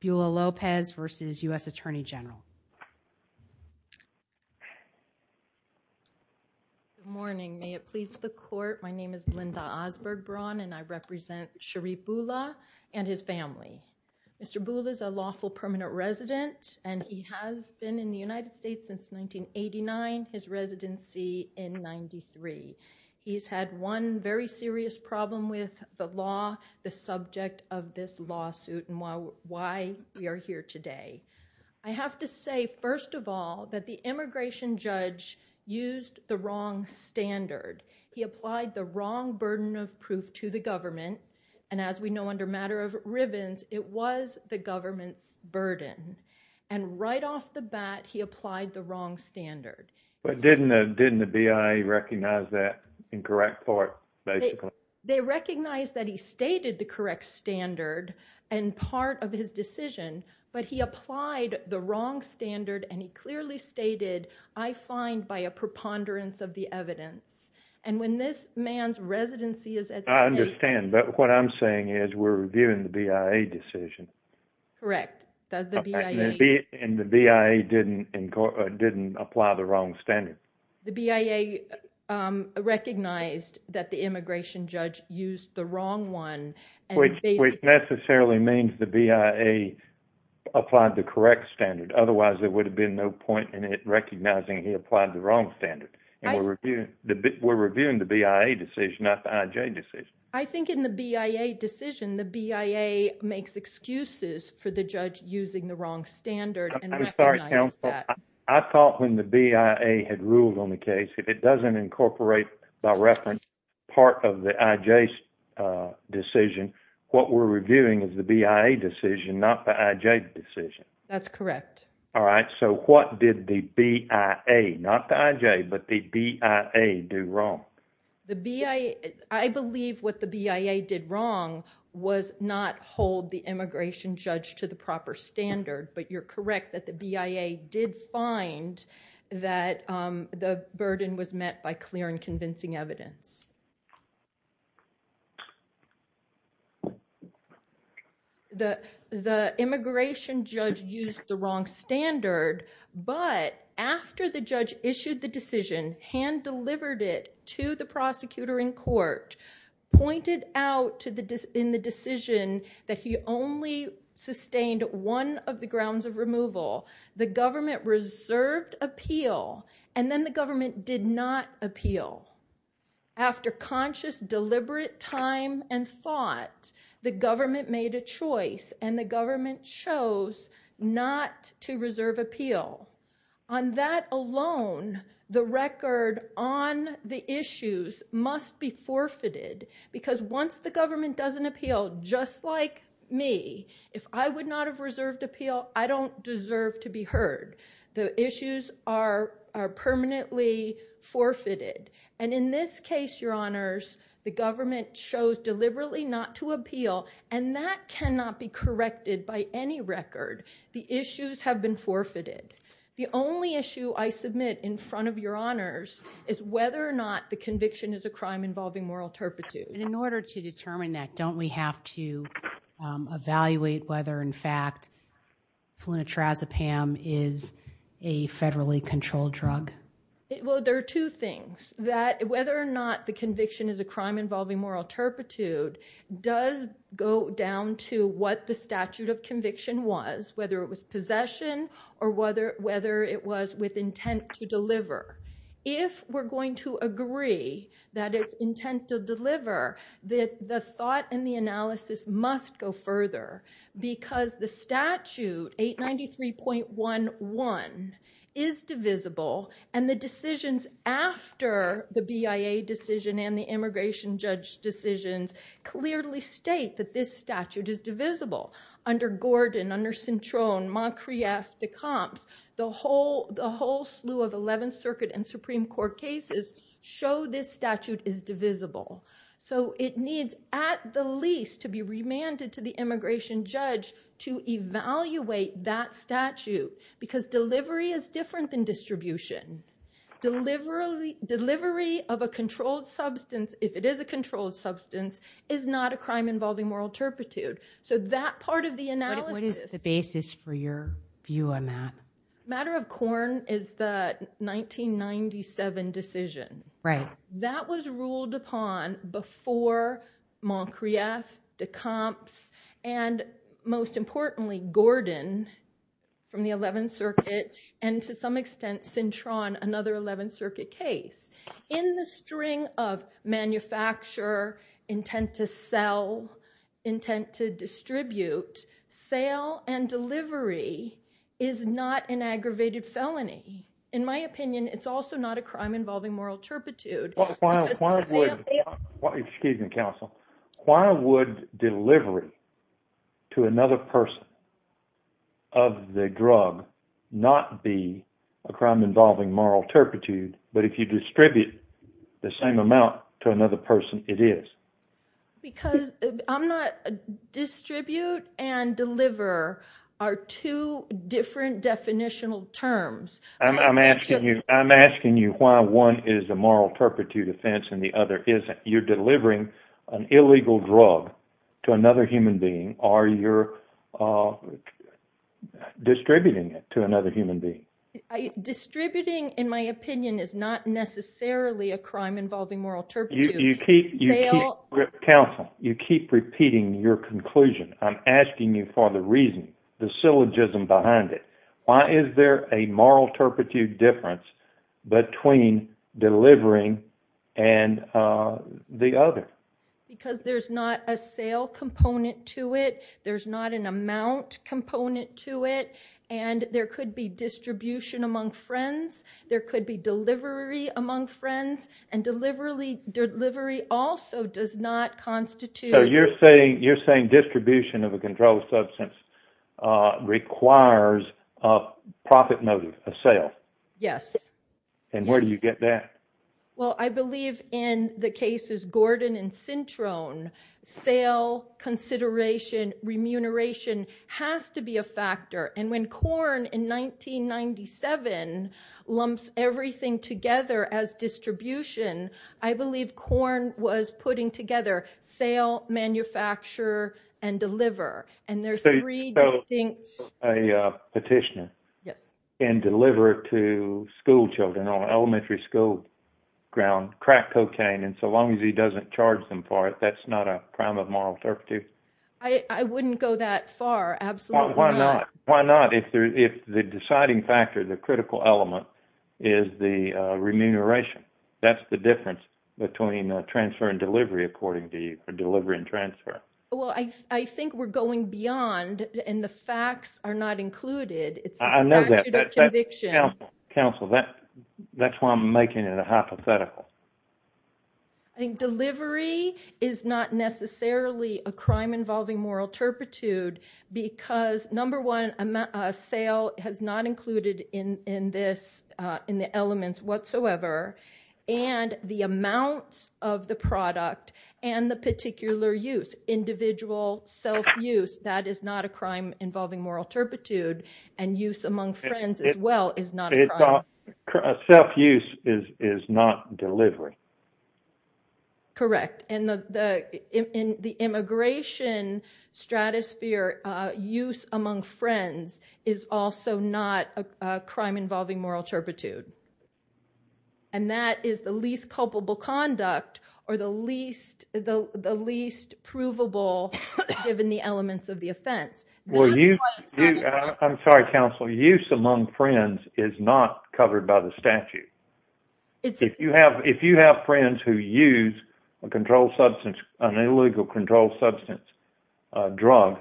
Bula Lopez v. U.S. Attorney General. Good morning, may it please the court, my name is Linda Osberg Braun and I represent Sheriff Bula and his family. Mr. Bula is a lawful permanent resident and he has been in the United States since 1989, his residency in 93. He's had one very serious problem with the law, the subject of this lawsuit and why we are here today. I have to say first of all that the immigration judge used the wrong standard. He applied the wrong burden of proof to the government and as we know under matter of ribbons it was the government's burden and right off the bat he applied the wrong standard. But didn't the BIA recognize that incorrect part? They recognized that he applied the wrong standard and part of his decision but he applied the wrong standard and he clearly stated I find by a preponderance of the evidence and when this man's residency is at stake... I understand but what I'm saying is we're reviewing the BIA decision. Correct. And the BIA didn't apply the wrong standard. The BIA recognized that the immigration judge used the wrong one. Which necessarily means the BIA applied the correct standard otherwise there would have been no point in it recognizing he applied the wrong standard. We're reviewing the BIA decision not the IJ decision. I think in the BIA decision the BIA makes excuses for the judge using the wrong standard. I thought when the BIA had ruled on the case if it doesn't incorporate by reference part of the IJ's decision what we're reviewing is the BIA decision not the IJ decision. That's correct. All right so what did the BIA not the IJ but the BIA do wrong? I believe what the BIA did wrong was not hold the immigration judge to the proper standard but you're correct that the BIA did find that the burden was met by clear and convincing evidence. The immigration judge used the wrong standard but after the judge issued the decision, hand delivered it to the prosecutor in court, pointed out to the in the decision that he only sustained one of the grounds of removal, the government reserved appeal and then the government did not appeal. After conscious deliberate time and thought the government made a choice and the government chose not to reserve appeal. On that alone the record on the issues must be forfeited because once the government doesn't appeal just like me if I would not have reserved appeal I don't deserve to be heard. The issues are permanently forfeited and in this case your honors the government chose deliberately not to appeal and that cannot be corrected by any record. The issues have been forfeited. The only issue I submit in front of your honors is whether or not the conviction is a crime involving moral turpitude. In order to determine that don't we have to evaluate whether in fact flunitrazepam is a federally controlled drug? Well there are two things that whether or not the conviction is a crime involving moral turpitude does go down to what the statute of conviction was whether it was possession or whether whether it was with intent to deliver. If we're going to agree that it's intent to deliver that the thought and the analysis must go further because the statute 893.11 is divisible and the decisions after the BIA decision and the immigration judge decisions clearly state that this statute is divisible under Gordon, under the whole slew of 11th Circuit and Supreme Court cases show this statute is divisible. So it needs at the least to be remanded to the immigration judge to evaluate that statute because delivery is different than distribution. Delivery of a controlled substance if it is a controlled substance is not a crime involving moral turpitude. So that part of the analysis. What is the basis for your view on that? Matter of Corn is the 1997 decision. Right. That was ruled upon before Moncrief, Decomps and most importantly Gordon from the 11th Circuit and to some extent Cintron another 11th Circuit case. In the string of manufacture, intent to sell, intent to distribute, sale and delivery is not an aggravated felony. In my opinion it's also not a crime involving moral turpitude. Why would delivery to another person of the drug not be a crime involving moral turpitude? Because distribute and deliver are two different definitional terms. I'm asking you why one is a moral turpitude offense and the other isn't. You're delivering an illegal drug to another human being or you're distributing it to another human being. Distributing in my opinion is not necessarily a crime involving moral turpitude. You keep repeating your conclusion. I'm asking you for the reason, the syllogism behind it. Why is there a moral turpitude difference between delivering and the other? Because there's not a sale component to it. There's not an amount component to it and there could be distribution among friends, there could be delivery among friends and delivery also does not constitute... So you're saying distribution of a controlled substance requires a profit motive, a sale? Yes. And where do you get that? Well I believe in the cases Gordon and Cintron, sale, consideration, remuneration has to be a factor. And when Korn in 1997 lumps everything together as distribution, I believe Korn was putting together sale, manufacture, and deliver. And there's three distinct... So a petitioner can deliver to school children on elementary school ground crack cocaine and so long as he doesn't charge them for it, that's not a crime of moral turpitude? I wouldn't go that far, absolutely not. Why not? If the deciding factor, the critical element, is the remuneration. That's the difference between transfer and delivery according to you, or delivery and transfer. Well I think we're going beyond and the facts are not included. It's a statute of conviction. Counsel, that's why I'm making it a hypothetical. I think delivery is not necessarily a crime involving moral turpitude because, number one, a sale has not included in this, in the elements whatsoever, and the amounts of the product and the particular use, individual self-use, that is not a crime involving moral turpitude, and use among friends as well is not a crime. Self-use is is not delivery. Correct, and in the immigration stratosphere, use among friends is also not a crime involving moral turpitude, and that is the least culpable conduct or the least provable given the elements of the offense. Well you, I'm sorry counsel, use among friends is not covered by the statute. If you have if you have friends who use a controlled substance, an illegal controlled substance drug,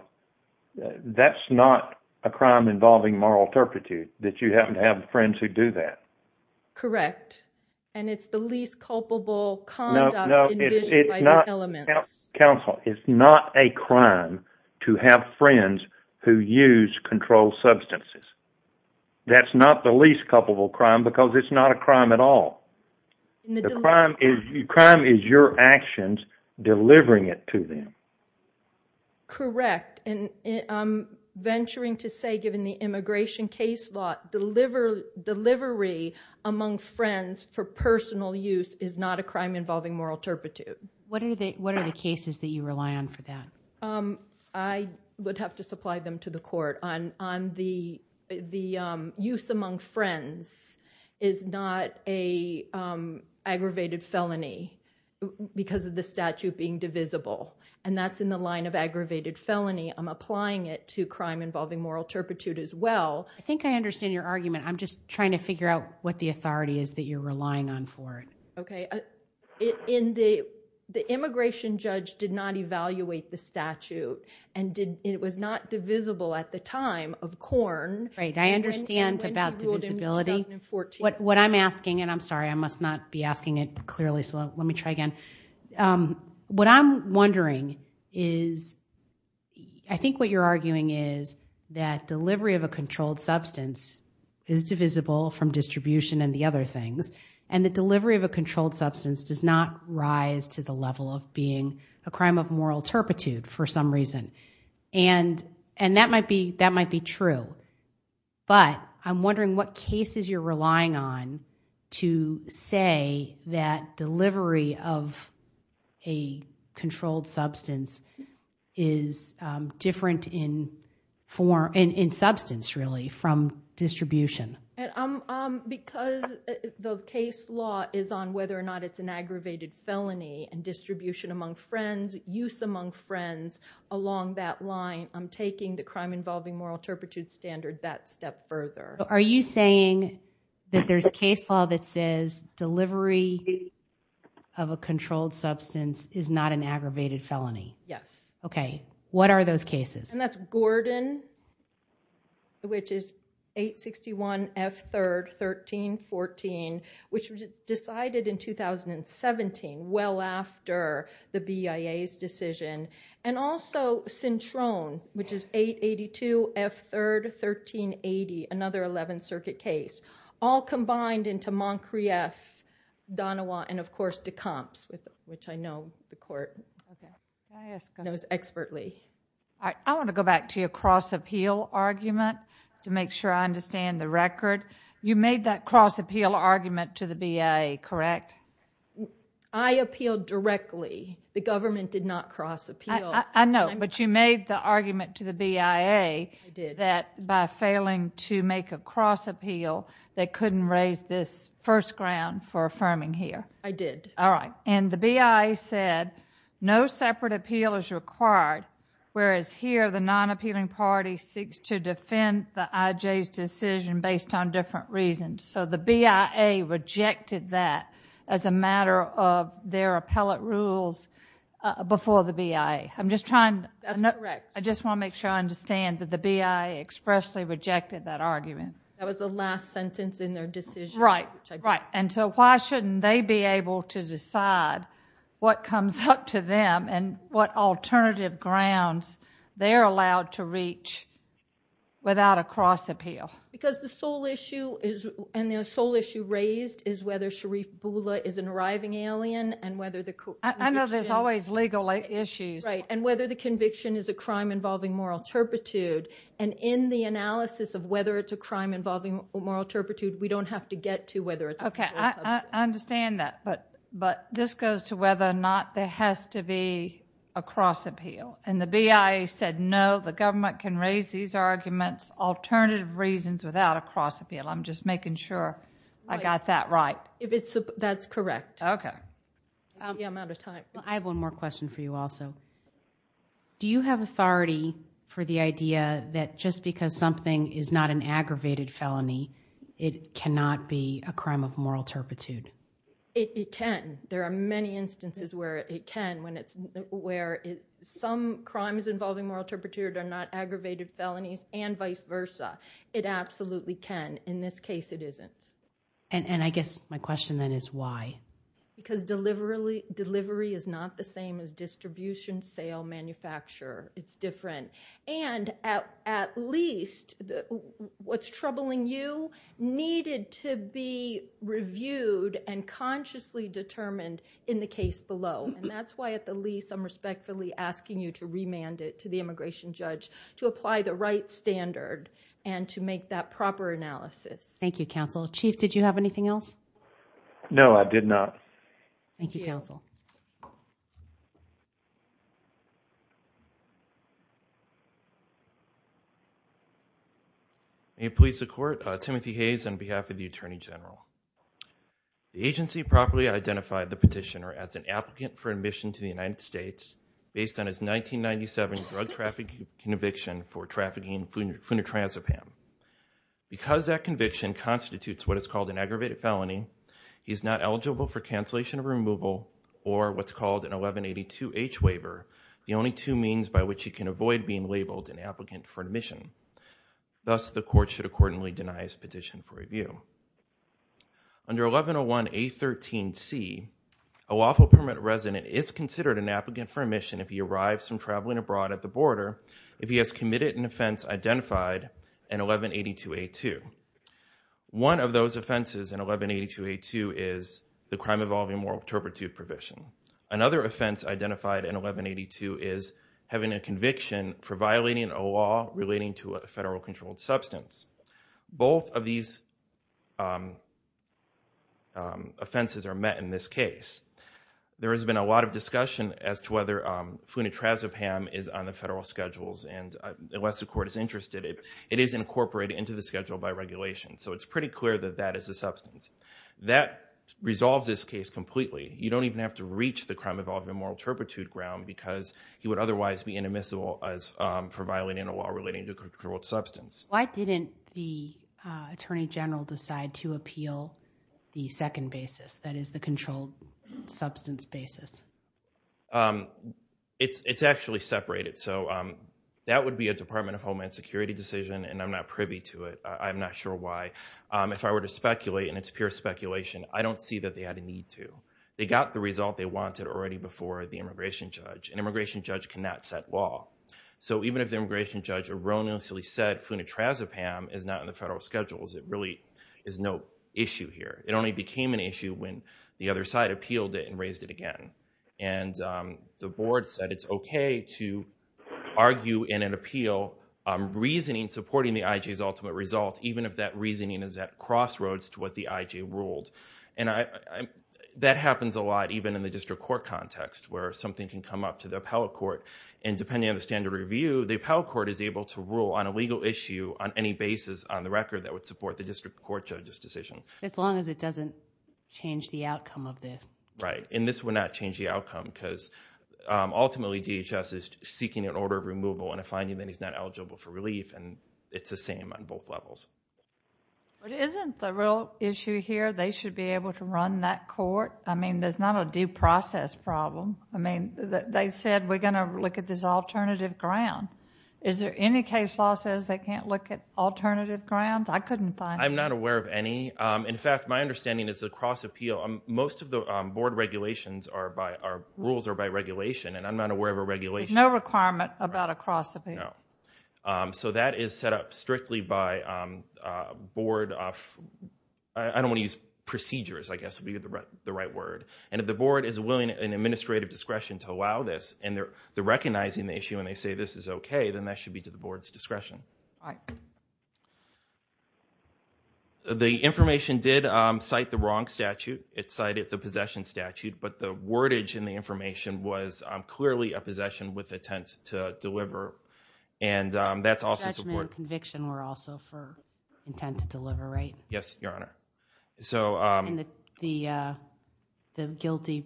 that's not a crime involving moral turpitude that you happen to have friends who do that. Correct, and it's the least culpable conduct envisioned by the elements. Counsel, it's not a crime to have friends who use controlled substances. That's not the least culpable crime because it's not a crime at all. The crime is your actions delivering it to them. Correct, and I'm venturing to say given the immigration case law, delivery among friends for personal use is not a crime involving moral turpitude. What are the what are the cases that you rely on for that? I would have to supply them to the the use among friends is not a aggravated felony because of the statute being divisible, and that's in the line of aggravated felony. I'm applying it to crime involving moral turpitude as well. I think I understand your argument. I'm just trying to figure out what the authority is that you're relying on for it. Okay, in the immigration judge did not evaluate the statute and it was not divisible at the time of Korn. Right, I understand about divisibility. What I'm asking, and I'm sorry I must not be asking it clearly, so let me try again. What I'm wondering is, I think what you're arguing is that delivery of a controlled substance is divisible from distribution and the other things, and the delivery of a controlled substance does not rise to the level of being a And that might be true, but I'm wondering what cases you're relying on to say that delivery of a controlled substance is different in form, in substance really, from distribution. Because the case law is on whether or not it's an aggravated felony and distribution among friends, use among friends, along that line. I'm taking the crime involving moral turpitude standard that step further. Are you saying that there's case law that says delivery of a controlled substance is not an aggravated felony? Yes. Okay, what are those cases? And that's Gordon, which is 861 F 3rd 1314, which was decided in 2017, well after the BIA's decision. And also, Cintron, which is 882 F 3rd 1380, another Eleventh Circuit case, all combined into Moncrief, Donawa, and of course Decomps, which I know the court knows expertly. I want to go back to your cross appeal argument to make sure I understand the record. You made that cross appeal argument to the BIA, correct? I appealed directly. The government did not cross appeal. I know, but you made the argument to the BIA that by failing to make a cross appeal, they couldn't raise this first ground for affirming here. I did. All right, and the BIA said no separate appeal is required, whereas here the non-appealing party seeks to defend the IJ's decision based on different reasons. So the BIA rejected that as a matter of their appellate rules before the BIA. I'm just trying, I just want to make sure I understand that the BIA expressly rejected that argument. That was the last sentence in their decision. Right, right, and so why shouldn't they be able to decide what comes up to them and what alternative grounds they're allowed to reach without a cross appeal? Because the sole issue is, and the sole issue raised, is whether Sharif Bula is an arriving alien and whether the conviction. I know there's always legal issues. Right, and whether the conviction is a crime involving moral turpitude, and in the analysis of whether it's a crime involving moral turpitude, we don't have to get to whether it's a criminal substance. Okay, I understand that, but this goes to whether or not there has to be a cross appeal, and the BIA said no, the government can raise these arguments, alternative reasons, without a cross appeal. I'm just making sure I got that right. That's correct. Okay. Yeah, I'm out of time. I have one more question for you also. Do you have authority for the idea that just because something is not an aggravated felony, it cannot be a crime of moral turpitude? It can. There are many instances where it can, when it's, where some crimes involving moral turpitude are not aggravated felonies, and vice versa. It absolutely can. In this case, it isn't. And I guess my question then is why? Because delivery is not the same as distribution, sale, manufacture. It's different. And at least, what's troubling you needed to be reviewed and consciously determined in the case below. And that's why at the least, I'm respectfully asking you to remand it to the immigration judge, to apply the right standard, and to make that proper analysis. Thank you, counsel. Chief, did you have anything else? No, I did not. Thank you, counsel. May it please the court, Timothy Hayes on behalf of the Attorney General. The agency properly identified the petitioner as an applicant for admission to the United States, based on his 1997 drug trafficking conviction for trafficking funetranspam. Because that conviction constitutes what is called an aggravated felony, he is not eligible for cancellation of removal, or what's called an 1182H waiver, the only two means by which he can avoid being labeled an applicant for admission. Thus, the court should accordingly deny his petition for 1182A13C, a lawful permanent resident is considered an applicant for admission if he arrives from traveling abroad at the border, if he has committed an offense identified in 1182A2. One of those offenses in 1182A2 is the crime involving moral turpitude provision. Another offense identified in 1182 is having a conviction for violating a law relating to a federal controlled substance. Both of these offenses are met in this case. There has been a lot of discussion as to whether funetranspam is on the federal schedules, and unless the court is interested, it is incorporated into the schedule by regulation. So it's pretty clear that that is a substance. That resolves this case completely. You don't even have to reach the crime involving moral turpitude ground, because he would otherwise be inadmissible as for Why didn't the Attorney General decide to appeal the second basis, that is the controlled substance basis? It's actually separated, so that would be a Department of Homeland Security decision, and I'm not privy to it. I'm not sure why. If I were to speculate, and it's pure speculation, I don't see that they had a need to. They got the result they wanted already before the immigration judge. An immigration judge cannot set law. So even if the immigration judge erroneously said funetranspam is not in the federal schedules, it really is no issue here. It only became an issue when the other side appealed it and raised it again, and the board said it's okay to argue in an appeal reasoning supporting the IJ's ultimate result, even if that reasoning is at crossroads to what the IJ ruled. And that happens a lot even in the district court context, where something can come up to the appellate court, and depending on the standard review, the appellate court has a legal issue on any basis on the record that would support the district court judge's decision. As long as it doesn't change the outcome of this. Right, and this would not change the outcome, because ultimately DHS is seeking an order of removal and a finding that he's not eligible for relief, and it's the same on both levels. But isn't the real issue here they should be able to run that court? I mean, there's not a due process problem. I mean, they said we're gonna look at this alternative ground. Is there any case law says they can't look at alternative grounds? I couldn't find any. I'm not aware of any. In fact, my understanding is the cross-appeal, most of the board regulations are by, rules are by regulation, and I'm not aware of a regulation. There's no requirement about a cross-appeal. So that is set up strictly by board, I don't want to use procedures, I guess would be the right word, and if the recognizing the issue and they say this is okay, then that should be to the board's discretion. The information did cite the wrong statute, it cited the possession statute, but the wordage in the information was clearly a possession with intent to deliver, and that's also support. Conviction were also for intent to deliver, right? Yes, Your Honor. So the guilty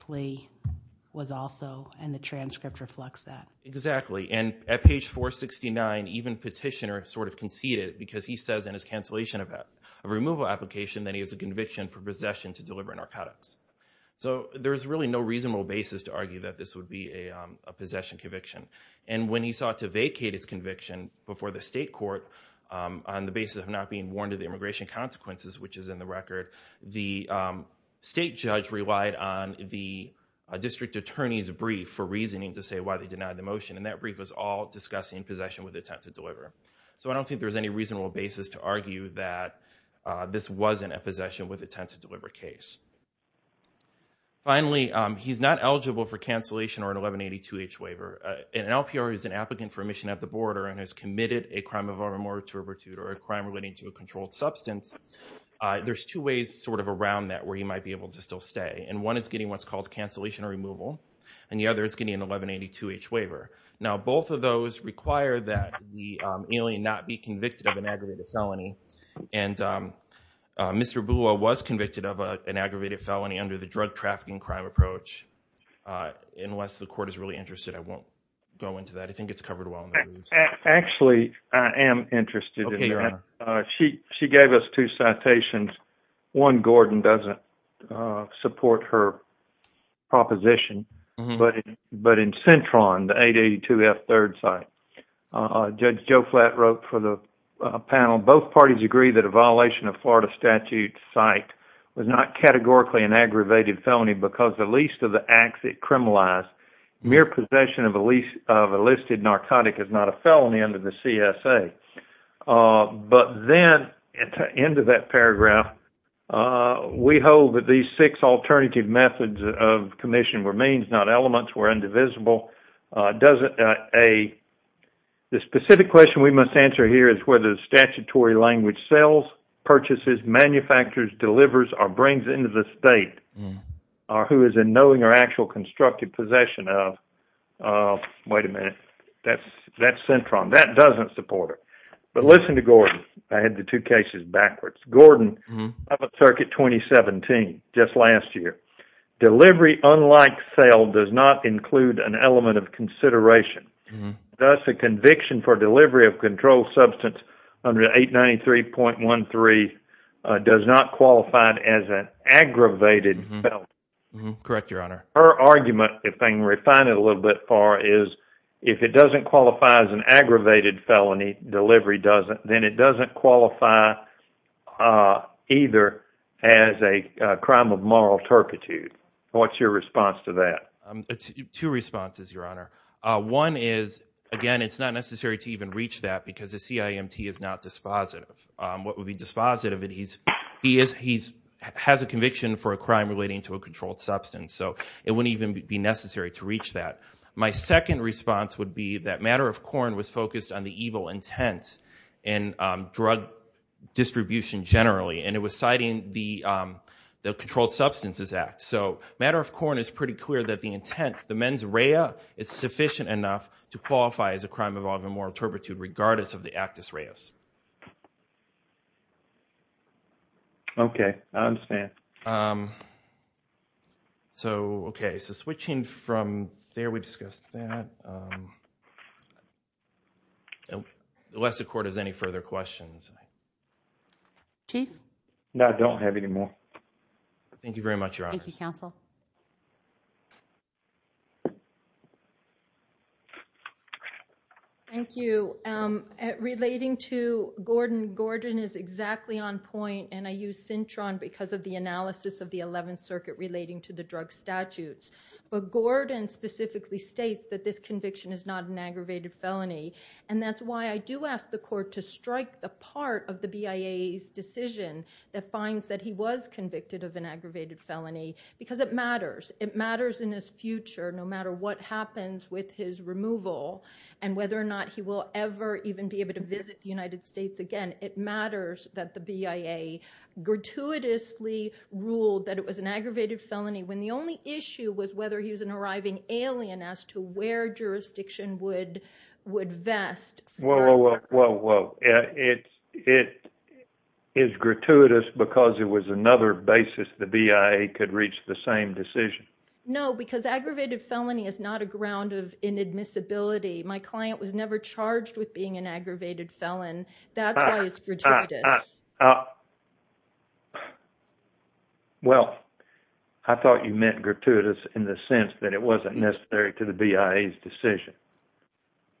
plea was also, and the transcript reflects that. Exactly, and at page 469 even petitioner sort of conceded because he says in his cancellation of a removal application that he has a conviction for possession to deliver narcotics. So there's really no reasonable basis to argue that this would be a possession conviction, and when he sought to vacate his conviction before the state court on the basis of not being warned of the immigration consequences, which is in the record, the state judge relied on the district attorney's brief for reasoning to say why they denied the motion, and that brief was all discussing possession with intent to deliver. So I don't think there's any reasonable basis to argue that this wasn't a possession with intent to deliver case. Finally, he's not eligible for cancellation or an LPR who's an applicant for admission at the border and has committed a crime of arm or turpitude or a crime relating to a controlled substance. There's two ways sort of around that where he might be able to still stay, and one is getting what's called cancellation or removal, and the other is getting an 1182-H waiver. Now both of those require that the alien not be convicted of an aggravated felony, and Mr. Boula was convicted of an aggravated felony under the drug Actually, I am interested. She gave us two citations. One, Gordon doesn't support her proposition, but in Centron, the 882F third site, Judge Joe Flatt wrote for the panel, both parties agree that a violation of Florida statute site was not categorically an aggravated felony because the least of the acts it listed narcotic is not a felony under the CSA, but then at the end of that paragraph, we hold that these six alternative methods of commission were means, not elements, were indivisible. The specific question we must answer here is whether the statutory language sells, purchases, manufactures, delivers, or brings into the state, or who is in knowing or actual constructed possession of, wait a minute, that's Centron. That doesn't support it, but listen to Gordon. I had the two cases backwards. Gordon, up at Circuit 2017, just last year, delivery unlike sale does not include an element of consideration, thus a conviction for delivery of controlled substance under 893.13 does not qualify either as a crime of moral turpitude. What's your response to that? Two responses, Your Honor. One is, again, it's not necessary to even reach that because the CIMT is not dispositive. What would be dispositive is he has a conviction for a crime relating to a controlled substance, so it wouldn't even be necessary to reach that. My second response would be that Matter of Corn was focused on the evil intent in drug distribution generally, and it was citing the Controlled Substances Act, so Matter of Corn is pretty clear that the intent, the mens rea, is sufficient enough to qualify as a crime of all the there, we discussed that. Unless the Court has any further questions. Chief? No, I don't have any more. Thank you very much, Your Honors. Thank you, Counsel. Thank you. Relating to Gordon, Gordon is exactly on point, and I use Centron because of the But Gordon specifically states that this conviction is not an aggravated felony, and that's why I do ask the Court to strike the part of the BIA's decision that finds that he was convicted of an aggravated felony, because it matters. It matters in his future, no matter what happens with his removal and whether or not he will ever even be able to visit the United States again. It matters that the BIA gratuitously ruled that it was an aggravated felony when the only issue was whether he was an arriving alien as to where jurisdiction would would vest. Whoa, whoa, whoa. It is gratuitous because it was another basis the BIA could reach the same decision. No, because aggravated felony is not a ground of inadmissibility. My client was never charged with being an aggravated felon. That's why it's gratuitous. Well, I thought you meant gratuitous in the sense that it wasn't necessary to the BIA's decision.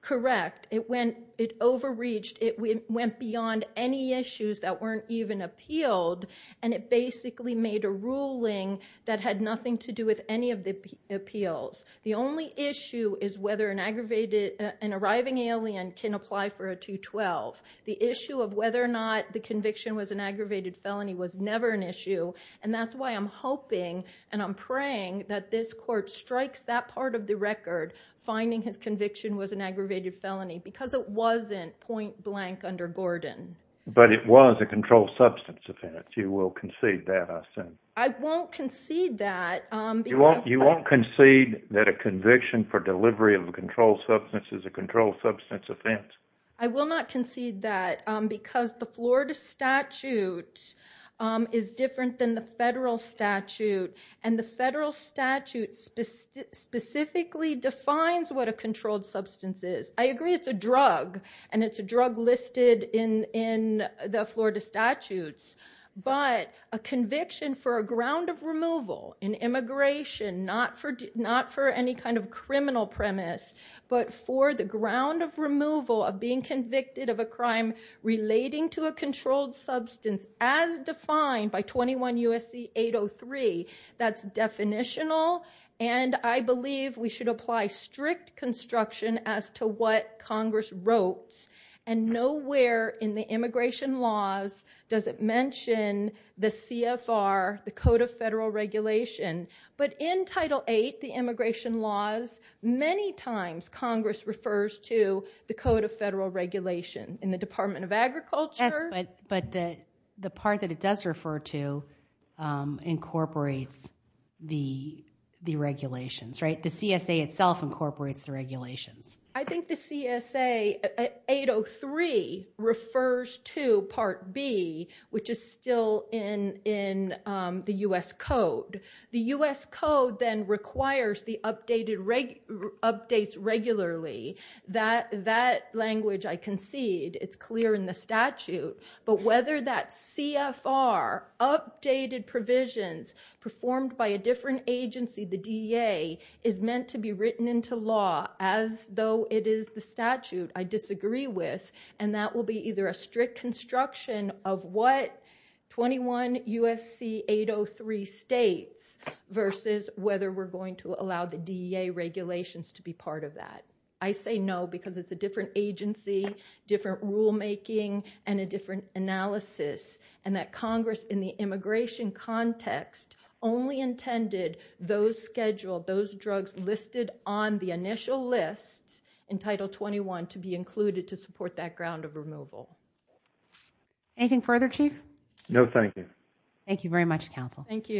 Correct. It overreached. It went beyond any issues that weren't even appealed, and it basically made a ruling that had nothing to do with any of the appeals. The only issue is whether an arriving alien can apply for a 212. The issue of whether or not the conviction was an aggravated felony was never an issue, and that's why I'm hoping and I'm praying that this court strikes that part of the record, finding his conviction was an aggravated felony, because it wasn't point-blank under Gordon. But it was a controlled substance offense. You will concede that, I assume. I won't concede that. You won't concede that a conviction for delivery of controlled substance is a controlled substance offense. I will not concede that, because the Florida statute is different than the federal statute, and the federal statute specifically defines what a controlled substance is. I agree it's a drug, and it's a drug listed in the Florida statutes, but a conviction for a ground of removal in immigration, not for any kind of criminal premise, but for the ground of removal of being convicted of a crime relating to a controlled substance, as defined by 21 U.S.C. 803. That's definitional, and I believe we should apply strict construction as to what Congress wrote, and nowhere in the immigration laws does it mention the CFR, the Code of Federal Regulation. But in Title VIII, the immigration laws, many times Congress refers to the Code of Federal Regulation in the Department of Agriculture. Yes, but the part that it does refer to incorporates the regulations, right? The CSA itself incorporates the regulations. I think the CSA 803 refers to Part B, which is still in the U.S. Code. The U.S. Code then requires the updates regularly. That language, I concede, it's clear in the statute, but whether that CFR, updated provisions performed by a different agency, the DEA, is meant to be written into law as though it is the statute, I believe we should apply strict construction of what 21 U.S.C. 803 states versus whether we're going to allow the DEA regulations to be part of that. I say no, because it's a different agency, different rulemaking, and a different analysis, and that Congress, in the immigration context, only intended those scheduled, those drugs listed on the initial list in Title XXI to be included to support that ground of removal. Anything further, Chief? No, thank you. Thank you very much, Council. Thank you.